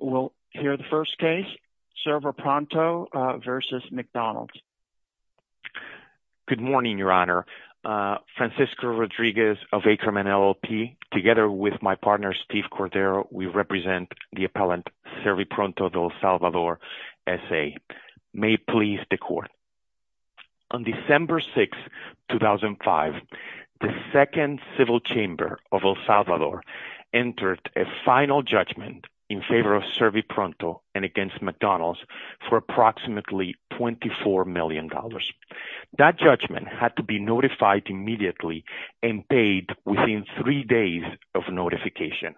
We will hear the first case, Servipronto v. McDonald's. Good morning, Your Honor. Francisco Rodriguez of Akerman LLP, together with my partner, Steve Cordero, we represent the appellant Servipronto De El Salvador, S.A. May it please the Court. On December 6, 2005, the Second Civil Chamber of El Salvador entered a final judgment in Servipronto and against McDonald's for approximately $24 million. That judgment had to be notified immediately and paid within three days of notification.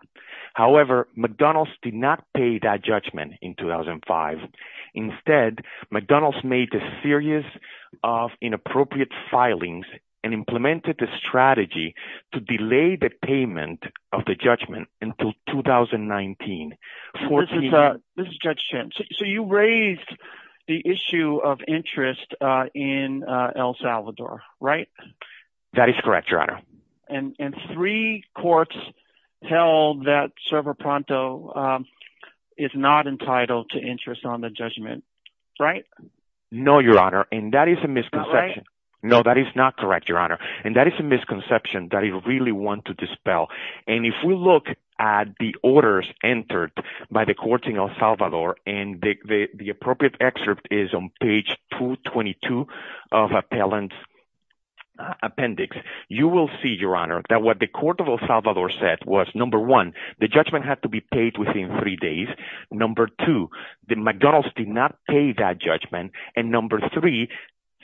However, McDonald's did not pay that judgment in 2005. Instead, McDonald's made a series of inappropriate filings and implemented a strategy to delay the payment of the judgment until 2019. This is Judge Chambers, so you raised the issue of interest in El Salvador, right? That is correct, Your Honor. And three courts held that Servipronto is not entitled to interest on the judgment, right? No, Your Honor. And that is a misconception. Right? No, that is not correct, Your Honor. And that is a misconception that I really want to dispel. And if we look at the orders entered by the courts in El Salvador, and the appropriate excerpt is on page 222 of Appellant Appendix, you will see, Your Honor, that what the court of El Salvador said was, number one, the judgment had to be paid within three days. Number two, that McDonald's did not pay that judgment. And number three,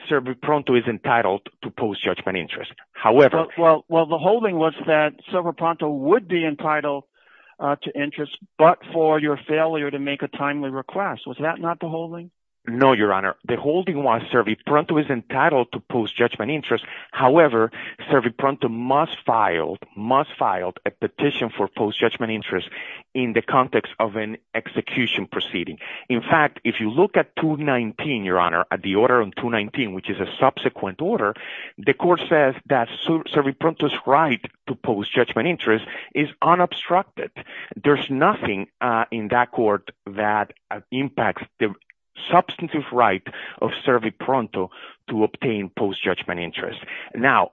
Servipronto is entitled to post-judgment interest. However... Well, the holding was that Servipronto would be entitled to interest, but for your failure to make a timely request. Was that not the holding? No, Your Honor. The holding was Servipronto is entitled to post-judgment interest. However, Servipronto must file a petition for post-judgment interest in the context of an execution proceeding. In fact, if you look at 219, Your Honor, at the order on 219, which is a subsequent order, the court says that Servipronto's right to post-judgment interest is unobstructed. There's nothing in that court that impacts the substantive right of Servipronto to obtain post-judgment interest. Now,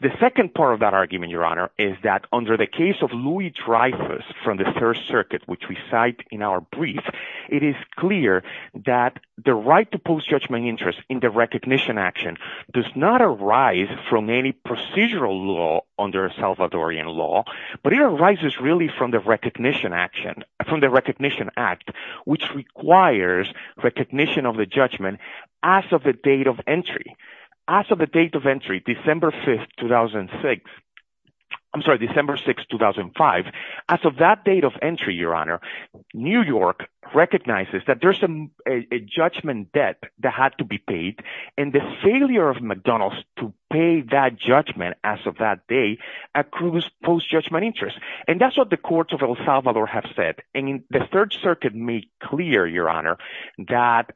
the second part of that argument, Your Honor, is that under the case of Louis Dreyfus from the Third Circuit, which we cite in our brief, it is clear that the right to post-judgment interest in the recognition action does not arise from any procedural law under Salvadorian law, but it arises really from the recognition action, from the Recognition Act, which requires recognition of the judgment as of the date of entry. As of the date of entry, December 5th, 2006, I'm sorry, December 6th, 2005, as of that date of entry, Your Honor, New York recognizes that there's a judgment debt that had to be paid, and the failure of McDonald's to pay that judgment as of that day accrues post-judgment interest. And that's what the courts of El Salvador have said, and the Third Circuit made clear, Your Honor, that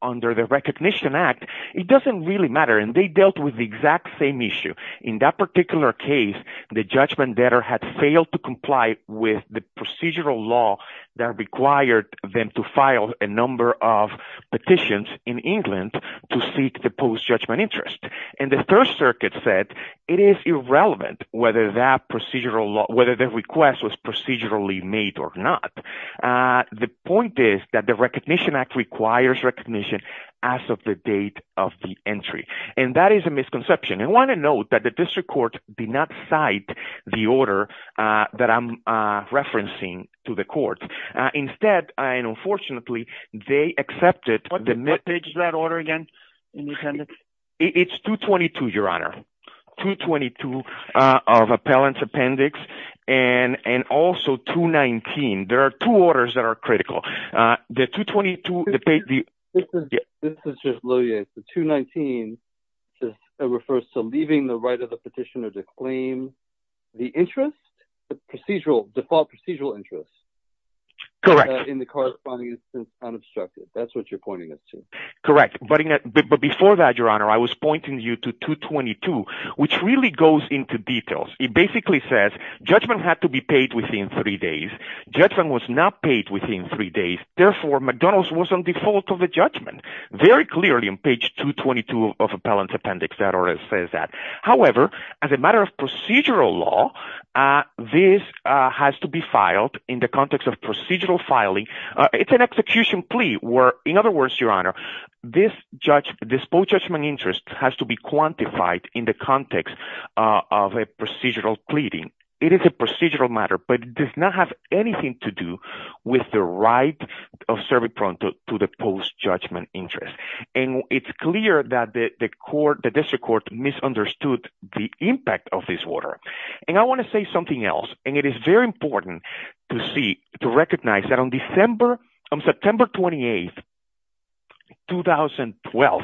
under the Recognition Act, it doesn't really matter, and they dealt with the exact same issue. In that particular case, the judgment debtor had failed to comply with the procedural law that required them to file a number of petitions in England to seek the post-judgment interest. And the Third Circuit said it is irrelevant whether that procedural law, whether the request was procedurally made or not. The point is that the Recognition Act requires recognition as of the date of the entry. And that is a misconception. And I want to note that the District Court did not cite the order that I'm referencing to the court. Instead, and unfortunately, they accepted the— What page is that order again, in the appendix? It's 222, Your Honor, 222 of Appellant's Appendix, and also 219. There are two orders that are critical. The 222— This is just low-yanked. The 219 just refers to leaving the right of the petitioner to claim the interest, the procedural, default procedural interest, in the corresponding instance, unobstructed. That's what you're pointing us to. Correct. But before that, Your Honor, I was pointing you to 222, which really goes into detail. It basically says, judgment had to be paid within three days. Judgment was not paid within three days. Therefore, McDonald's was on default of the judgment. Very clearly on page 222 of Appellant's Appendix, that order says that. However, as a matter of procedural law, this has to be filed in the context of procedural filing. It's an execution plea where, in other words, Your Honor, this full judgment interest has to be quantified in the context of a procedural pleading. It is a procedural matter, but it does not have anything to do with the right of serving to the post-judgment interest. And it's clear that the court, the district court, misunderstood the impact of this order. And I want to say something else. And it is very important to see, to recognize that on September 28, 2012,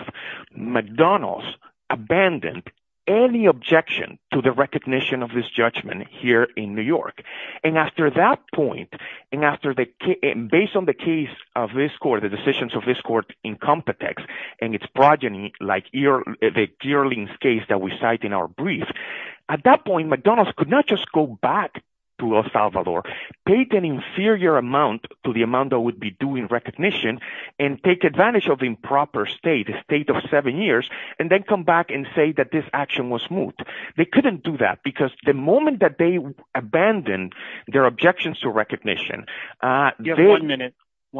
McDonald's abandoned any objection to the recognition of this judgment here in New York. And after that point, and based on the case of this court, the decisions of this court in Compitex and its progeny, like the Geerling case that we cite in our brief, at that point, McDonald's could not just go back to El Salvador, pay an inferior amount to the amount that would be due in recognition, and take advantage of the improper state, a state of seven years, and then come back and say that this action was moot. They couldn't do that, because the moment that they abandoned their objections to recognition, You have one minute.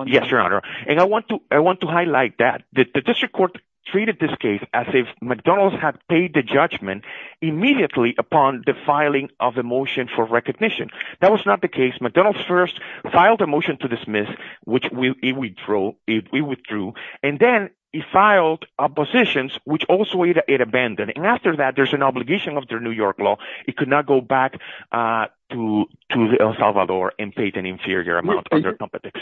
Yes, Your Honor. And I want to highlight that. The district court treated this case as if McDonald's had paid the judgment immediately upon the filing of a motion for recognition. That was not the case. McDonald's first filed a motion to dismiss, which it withdrew. And then it filed oppositions, which also it abandoned. And after that, there's an obligation under New York law, it could not go back to El Salvador and pay an inferior amount under Compitex.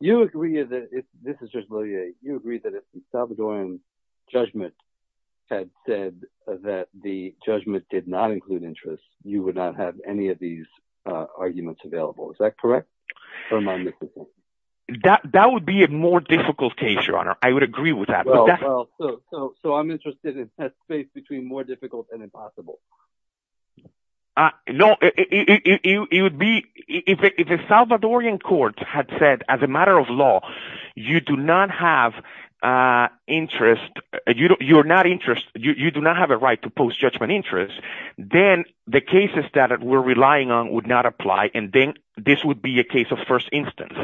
You agree that, this is just Lilia, you agree that El Salvadoran judgment had said that if the judgment did not include interest, you would not have any of these arguments available. Is that correct? Or am I missing something? That would be a more difficult case, Your Honor. I would agree with that. Well, so I'm interested in a space between more difficult and impossible. No, it would be, if the Salvadoran court had said, as a matter of law, you do not have interest, you do not have a right to post-judgment interest, then the cases that we're relying on would not apply. And then this would be a case of first instance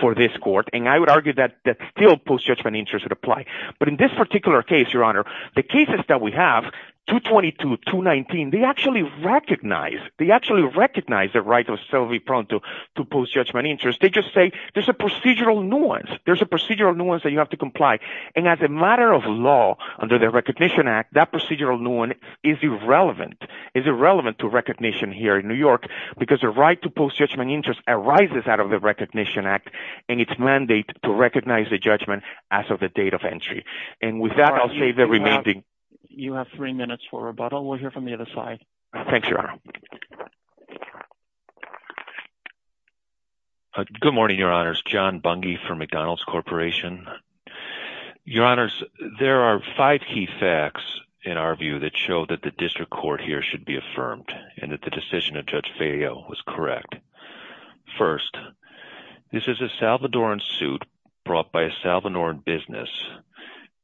for this court. And I would argue that still post-judgment interest would apply. But in this particular case, Your Honor, the cases that we have, 222, 219, they actually recognize, they actually recognize the right of Selvy Pronto to post-judgment interest. They just say, there's a procedural nuance. There's a procedural nuance that you have to comply. And as a matter of law, under the Recognition Act, that procedural nuance is irrelevant. It's irrelevant to recognition here in New York because the right to post-judgment interest arises out of the Recognition Act and its mandate to recognize the judgment as of the date of entry. And with that, I'll save the remaining. You have three minutes for rebuttal. We'll hear from the other side. Thanks, Your Honor. Good morning, Your Honors. This is John Bunge for McDonald's Corporation. Your Honors, there are five key facts in our view that show that the district court here should be affirmed and that the decision of Judge Fejo was correct. First, this is a Salvadoran suit brought by a Salvadoran business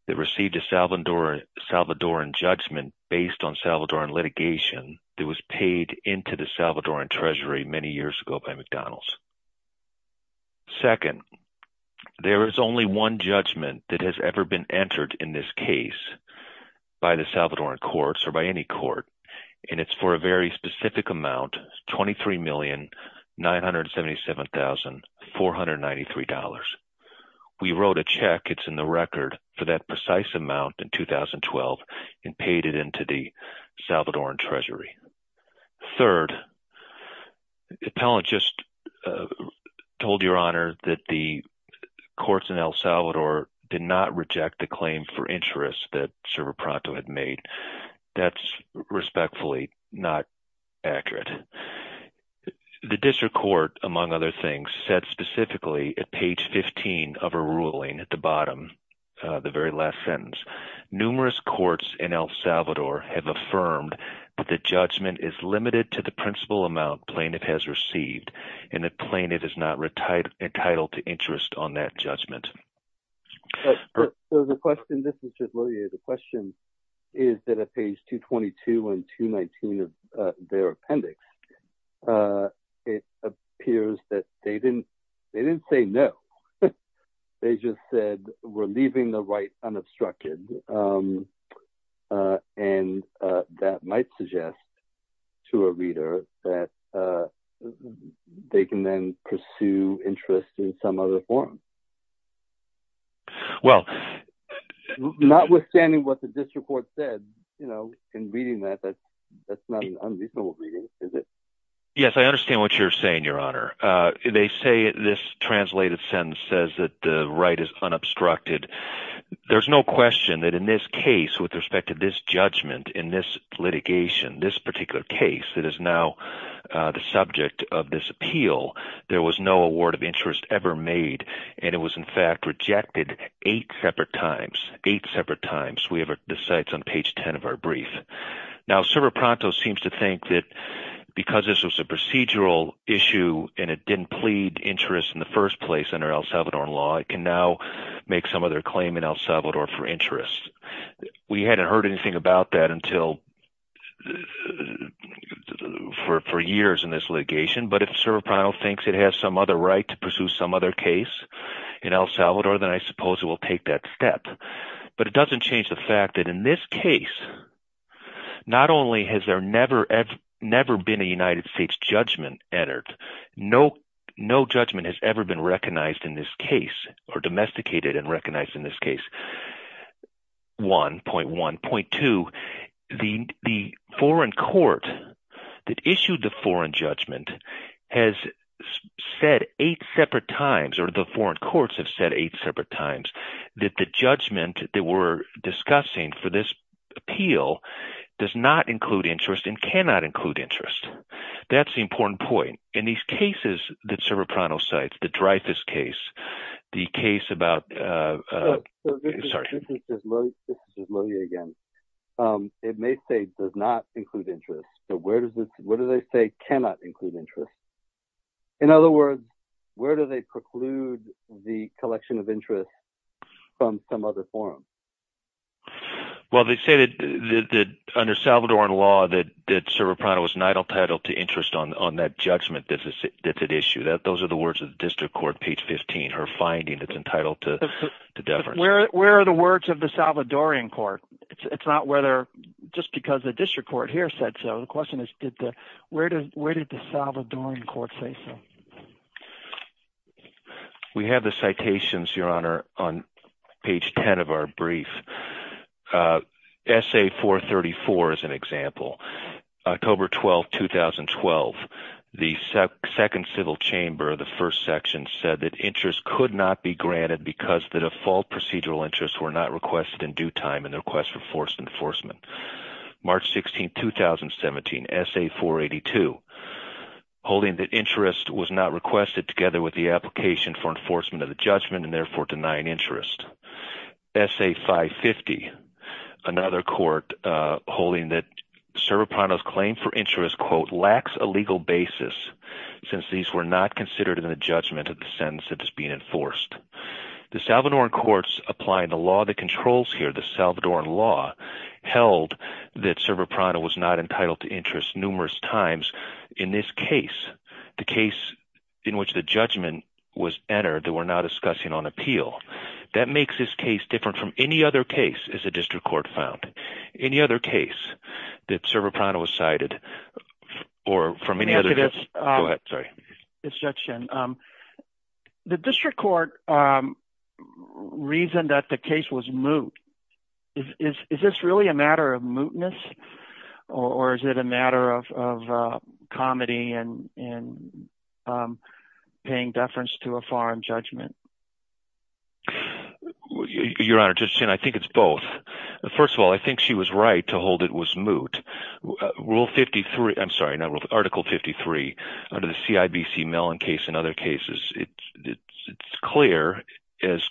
that received a Salvadoran judgment based on Salvadoran litigation that was paid into the Salvadoran Treasury many years ago by McDonald's. Second, there is only one judgment that has ever been entered in this case by the Salvadoran courts or by any court, and it's for a very specific amount, $23,977,493. We wrote a check, it's in the record, for that precise amount in 2012 and paid it into the Salvadoran Treasury. Third, the appellant just told Your Honor that the courts in El Salvador did not reject the claim for interest that Server Pronto had made. That's respectfully not accurate. The district court, among other things, said specifically at page 15 of her ruling at the bottom, the very last sentence, numerous courts in El Salvador have affirmed that the judge is limited to the principal amount plaintiff has received and that plaintiff is not entitled to interest on that judgment. So the question, this is just really, the question is that at page 222 and 219 of their appendix, it appears that they didn't, they didn't say no, they just said we're leaving the right unobstructed. And that might suggest to a reader that they can then pursue interest in some other form. Well, notwithstanding what the district court said, you know, in reading that, that's not an unreasonable reading, is it? Yes, I understand what you're saying, Your Honor. They say this translated sentence says that the right is unobstructed. There's no question that in this case, with respect to this judgment, in this litigation, this particular case that is now the subject of this appeal, there was no award of interest ever made. And it was in fact rejected eight separate times, eight separate times. We have the sites on page 10 of our brief. Now, Servo Pronto seems to think that because this was a procedural issue and it didn't plead interest in the first place under El Salvador law, it can now make some other claim in El Salvador for interest. We hadn't heard anything about that until, for years in this litigation. But if Servo Pronto thinks it has some other right to pursue some other case in El Salvador, then I suppose it will take that step. But it doesn't change the fact that in this case, not only has there never, never been a United States judgment entered, no, no judgment has ever been recognized in this case or domesticated and recognized in this case. 1.1. 2. The foreign court that issued the foreign judgment has said eight separate times, or the foreign courts have said eight separate times that the judgment that we're discussing for this appeal does not include interest and cannot include interest. That's the important point. In these cases that Servo Pronto cites, the Dreyfus case, the case about, sorry. This is Louis again. It may say does not include interest. So where does this, what do they say cannot include interest? In other words, where do they preclude the collection of interest from some other forum? Well, they say that under Salvadoran law that Servo Pronto was not entitled to interest on that judgment that's at issue. Those are the words of the district court, page 15, her finding that's entitled to deference. Where are the words of the Salvadoran court? It's not whether, just because the district court here said so. So the question is where did the Salvadoran court say so? We have the citations, Your Honor, on page 10 of our brief. Essay 434 is an example. October 12, 2012. The second civil chamber, the first section, said that interest could not be granted because the default procedural interests were not requested in due time and the request for forced enforcement. March 16, 2017. Essay 482. Holding that interest was not requested together with the application for enforcement of the judgment and therefore denying interest. Essay 550. Another court holding that Servo Pronto's claim for interest, quote, lacks a legal basis since these were not considered in the judgment of the sentence that is being enforced. The Salvadoran courts applying the law that controls here, the Salvadoran law, held that Servo Pronto was not entitled to interest numerous times in this case. The case in which the judgment was entered that we're now discussing on appeal. That makes this case different from any other case that the district court found. Any other case that Servo Pronto was cited or from any other case. Go ahead, sorry. It's Judge Shin. The district court reasoned that the case was moot. Is this really a matter of mootness? Or is it a matter of comedy and paying deference to a foreign judgment? Your Honor, Judge Shin, I think it's both. First of all, I think she was right to hold it was moot. Rule 53, I'm sorry, Article 53 under the CIBC Mellon case and other cases. It's clear, as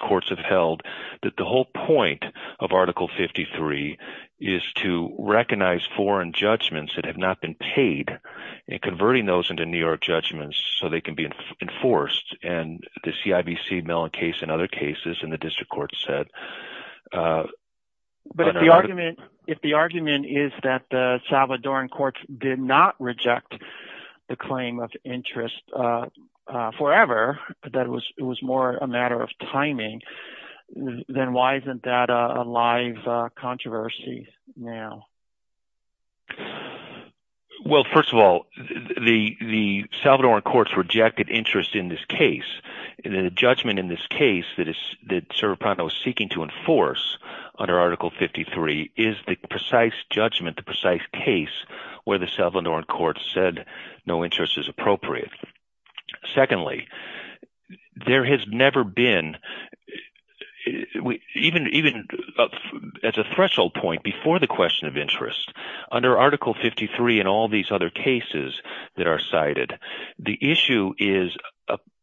courts have held, that the whole point of Article 53 is to recognize foreign judgments that have not been paid and converting those into New York judgments so they can be enforced. And the CIBC Mellon case and other cases in the district court said. But if the argument is that the Salvadoran courts did not reject the claim of interest forever, that it was more a matter of timing, then why isn't that a live controversy now? Well, first of all, the Salvadoran courts rejected interest in this case. The judgment in this case that Serge Prado is seeking to enforce under Article 53 is the precise judgment, the precise case where the Salvadoran courts said no interest is appropriate. Secondly, there has never been, even as a threshold point before the question of interest, under Article 53 and all these other cases that are cited, the issue is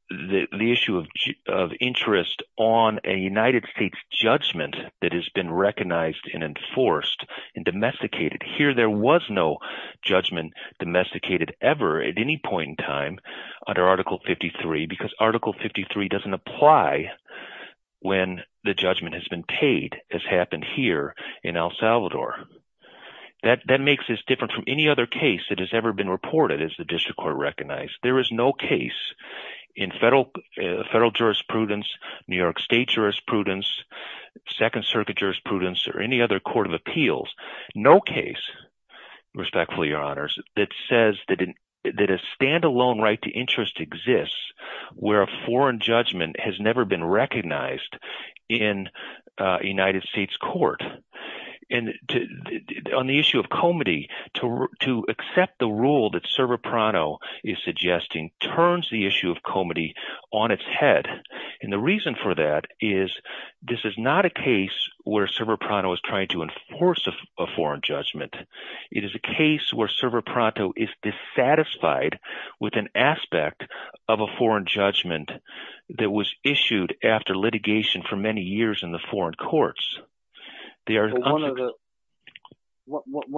the issue of interest on a United States judgment that has been recognized and enforced and domesticated. Here there was no judgment domesticated ever at any point in time under Article 53 because Article 53 doesn't apply when the judgment has been paid as happened here in El Salvador. That makes this different from any other case that has ever been reported as the district court recognized. There is no case in federal jurisprudence, New York State jurisprudence, Second Circuit jurisprudence or any other court of appeals, no case, respectfully, Your Honors, that says that a standalone right to interest exists where a foreign judgment has never been recognized in a United States court. And on the issue of comity, to accept the rule that Servo Prado is suggesting turns the issue of comity on its head. And the reason for that is this is not a case where Servo Prado is trying to enforce a foreign judgment. It is a case where Servo Prado is dissatisfied with an aspect of a foreign judgment that was issued after litigation for many years in the foreign courts. One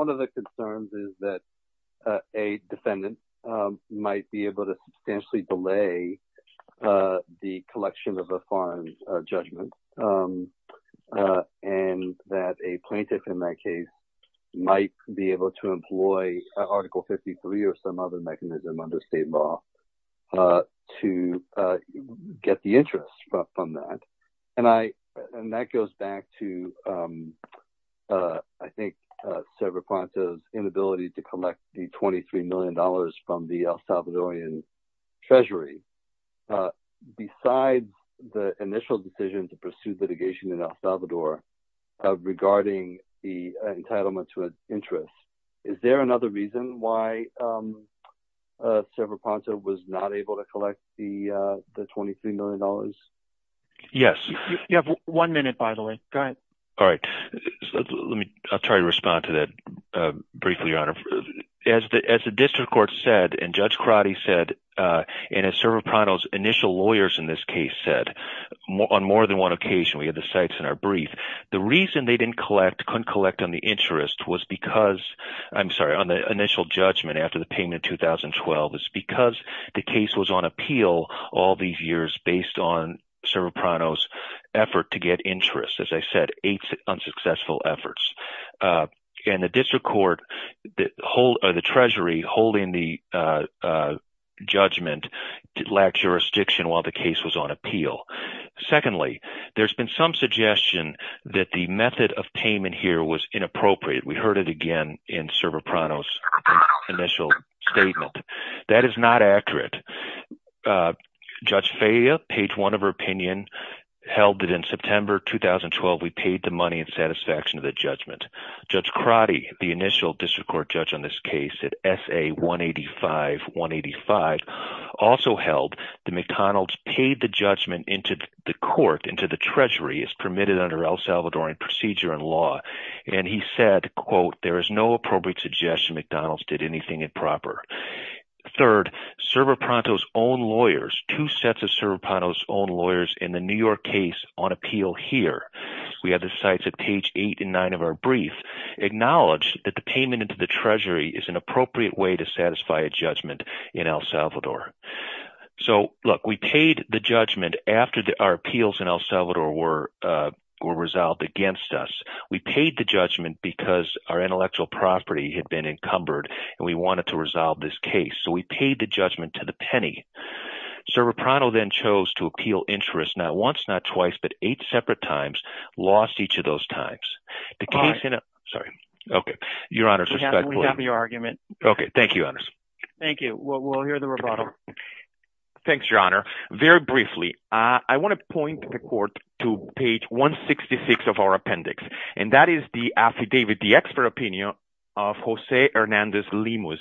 of the concerns is that a defendant might be able to substantially delay the collection of a foreign judgment and that a plaintiff in that case might be able to employ Article 53 or some other mechanism under state law to get the interest from that. And that goes back to, I think, Servo Prado's inability to collect the $23 million from the El Salvadorian Treasury. Besides the initial decision to pursue litigation in El Salvador regarding the entitlement to an interest, is there another reason why Servo Prado was not able to collect the $23 million? Yes. You have one minute, by the way. Go ahead. All right. I'll try to respond to that briefly, Your Honor. As the district court said, and Judge Crotty said, and as Servo Prado's initial lawyers in this case said, on more than one occasion, we have the sites in our brief, the reason they didn't collect, couldn't collect on the interest was because, I'm sorry, on the initial judgment after the payment in 2012, it's because the case was on appeal all these years based on Servo Prado's effort to get interest. As I said, eight unsuccessful efforts. And the district court, the Treasury holding the judgment, lacked jurisdiction while the case was on appeal. Secondly, there's been some suggestion that the method of payment here was inappropriate. We heard it again in Servo Prado's initial statement. That is not accurate. Judge Feja, page one of her opinion, held that in September 2012, we paid the money in satisfaction of the judgment. Judge Crotty, the initial district court judge on this case at SA 185-185, also held that McDonald's paid the judgment into the court, into the Treasury as permitted under El Salvadorian procedure and law. And he said, quote, there is no appropriate suggestion McDonald's did anything improper. Third, Servo Prado's own lawyers, two sets of Servo Prado's own lawyers, in the New York case on appeal here, we have the sites of page eight and nine of our brief, acknowledged that the payment into the Treasury is an appropriate way to satisfy a judgment in El Salvador. So, look, we paid the judgment after our appeals in El Salvador were resolved against us. We paid the judgment because our intellectual property had been encumbered and we wanted to resolve this case. So, we paid the judgment to the penny. Servo Prado then chose to appeal interest not once, not twice, but eight separate times, lost each of those times. The case... All right. Sorry. Okay. Your Honor's respect, please. We have your argument. Okay. Thank you, Your Honor. Thank you. We'll hear the rebuttal. Thanks, Your Honor. Very briefly, I want to point the court to page 166 of our appendix. And that is the affidavit, the expert opinion of Jose Hernandez Limus.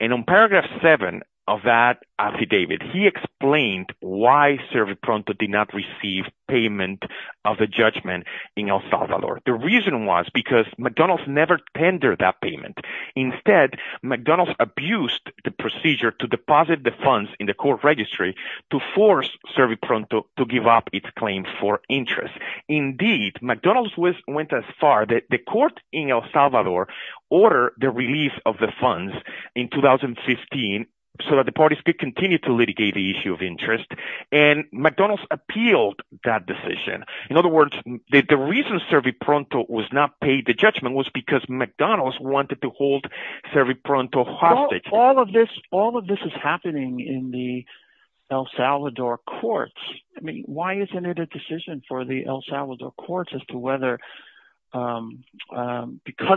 And on paragraph seven of that affidavit, he explained why Servo Prado did not receive payment of the judgment in El Salvador. The reason was because McDonald's never tendered that payment. Instead, McDonald's abused the procedure to deposit the funds in the court registry to force Servo Prado to give up its claim for interest. Indeed, McDonald's went as far that the court in El Salvador ordered the release of the funds in 2015 so that the parties could continue to litigate the issue of interest. And McDonald's appealed that decision. In other words, the reason Servo Prado was not paid the judgment was because McDonald's wanted to hold Servo Prado hostage. All of this is happening in the El Salvador courts. Why isn't it a decision for the El Salvador courts as to whether, because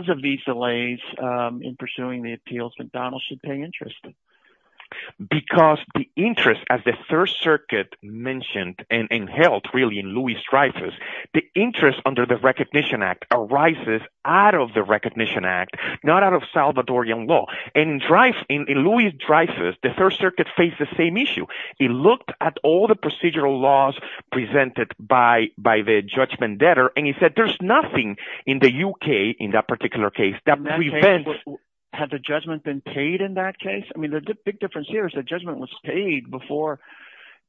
of these delays in pursuing the appeals, McDonald's should pay interest? Because the interest, as the Third Circuit mentioned and held really in Luis Dreyfus, the interest under the Recognition Act arises out of the Recognition Act, not out of Salvadorian law. In Luis Dreyfus, the Third Circuit faced the same issue. It looked at all the procedural laws presented by the judgment debtor and it said there's nothing in the UK, in that particular case, that prevents... Had the judgment been paid in that case? I mean, the big difference here is the judgment was paid before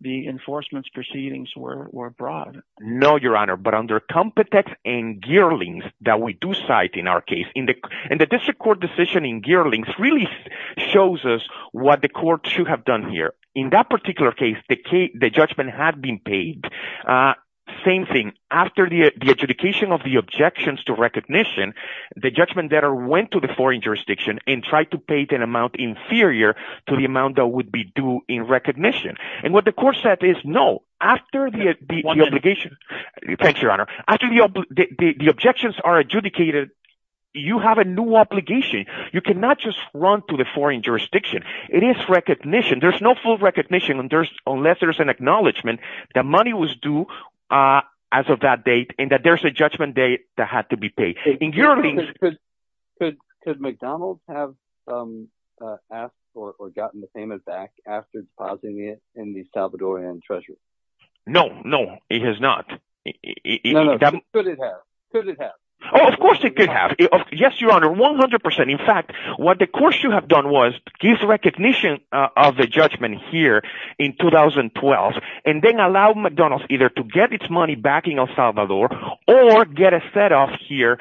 the enforcement proceedings were brought. No, Your Honor, but under Compitex and Gearlings that we do cite in our case, and the district court decision in Gearlings really shows us what the court should have done here. In that particular case, the judgment had been paid. Same thing. After the adjudication of the objections to recognition, the judgment debtor went to the foreign jurisdiction and tried to pay an amount inferior to the amount that would be due in recognition. And what the court said is, no, after the obligation... Thanks, Your Honor. After the objections are adjudicated, you have a new obligation. You cannot just run to the foreign jurisdiction. It is recognition. There's no recognition unless there's an acknowledgment that money was due as of that date and that there's a judgment date that had to be paid. In Gearlings... Could McDonald's have asked or gotten the payment back after depositing it in the Salvadorian treasury? No, no, it has not. No, no, could it have? Could it have? Oh, of course it could have. Yes, Your Honor, 100%. In fact, what the court should have done was give recognition of the judgment here in 2012 and then allow McDonald's either to get its money back in El Salvador or get a set-off here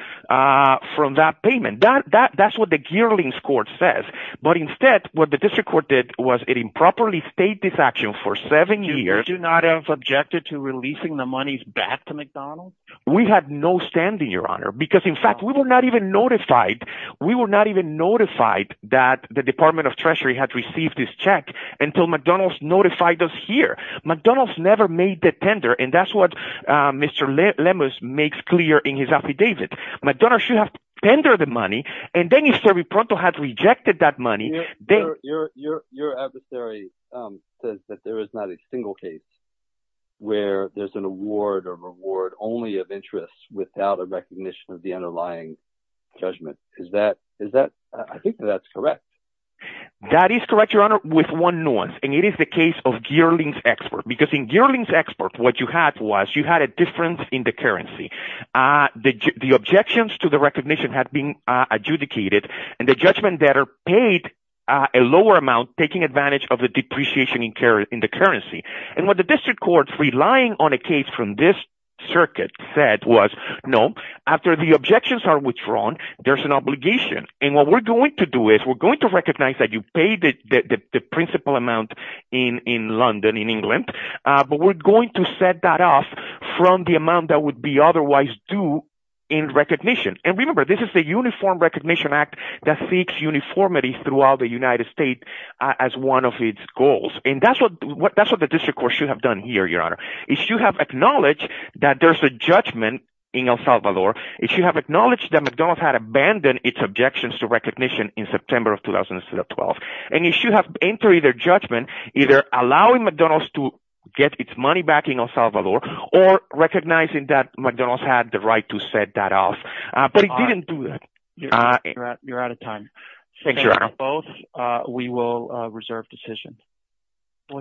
from that payment. That's what the Gearlings court says. But instead, what the district court did was it improperly stayed this action for seven years... Did you not have objected to releasing the monies back to McDonald's? We had no standing, Your Honor, because, in fact, we were not even notified we were not even notified that the Department of Treasury had received this check until McDonald's notified us here. McDonald's never made the tender and that's what Mr. Lemus makes clear in his affidavit. McDonald's should have tendered the money and then if Serbi Pronto had rejected that money... Your adversary says that there is not a single case where there's an award or reward only of interest without a recognition of the underlying judgment date. I think that's correct. That is correct, Your Honor, with one nuance and it is the case of Gearlings Export because in Gearlings Export, what you had was you had a difference in the currency. The objections to the recognition had been adjudicated and the judgment debtor paid a lower amount taking advantage of the depreciation in the currency. And what the district court, relying on a case from this circuit, said was no, after the objections are withdrawn there's an obligation. And what we're going to do is we're going to recognize that you paid the principal amount in London, in England, but we're going to set that off from the amount that would be otherwise due in recognition. And remember, this is the Uniform Recognition Act that seeks uniformity throughout the United States as one of its goals. And that's what the district court should have done here, Your Honor. It should have acknowledged that there's a judgment in El Salvador. It should have acknowledged that McDonald's had abandoned its objections to recognition in September of 2012. And it should have entered either judgment either allowing McDonald's to get its money back in El Salvador or recognizing that McDonald's had the right to set that off. But it didn't do that. You're out of time. Thanks, Your Honor. We will reserve decision.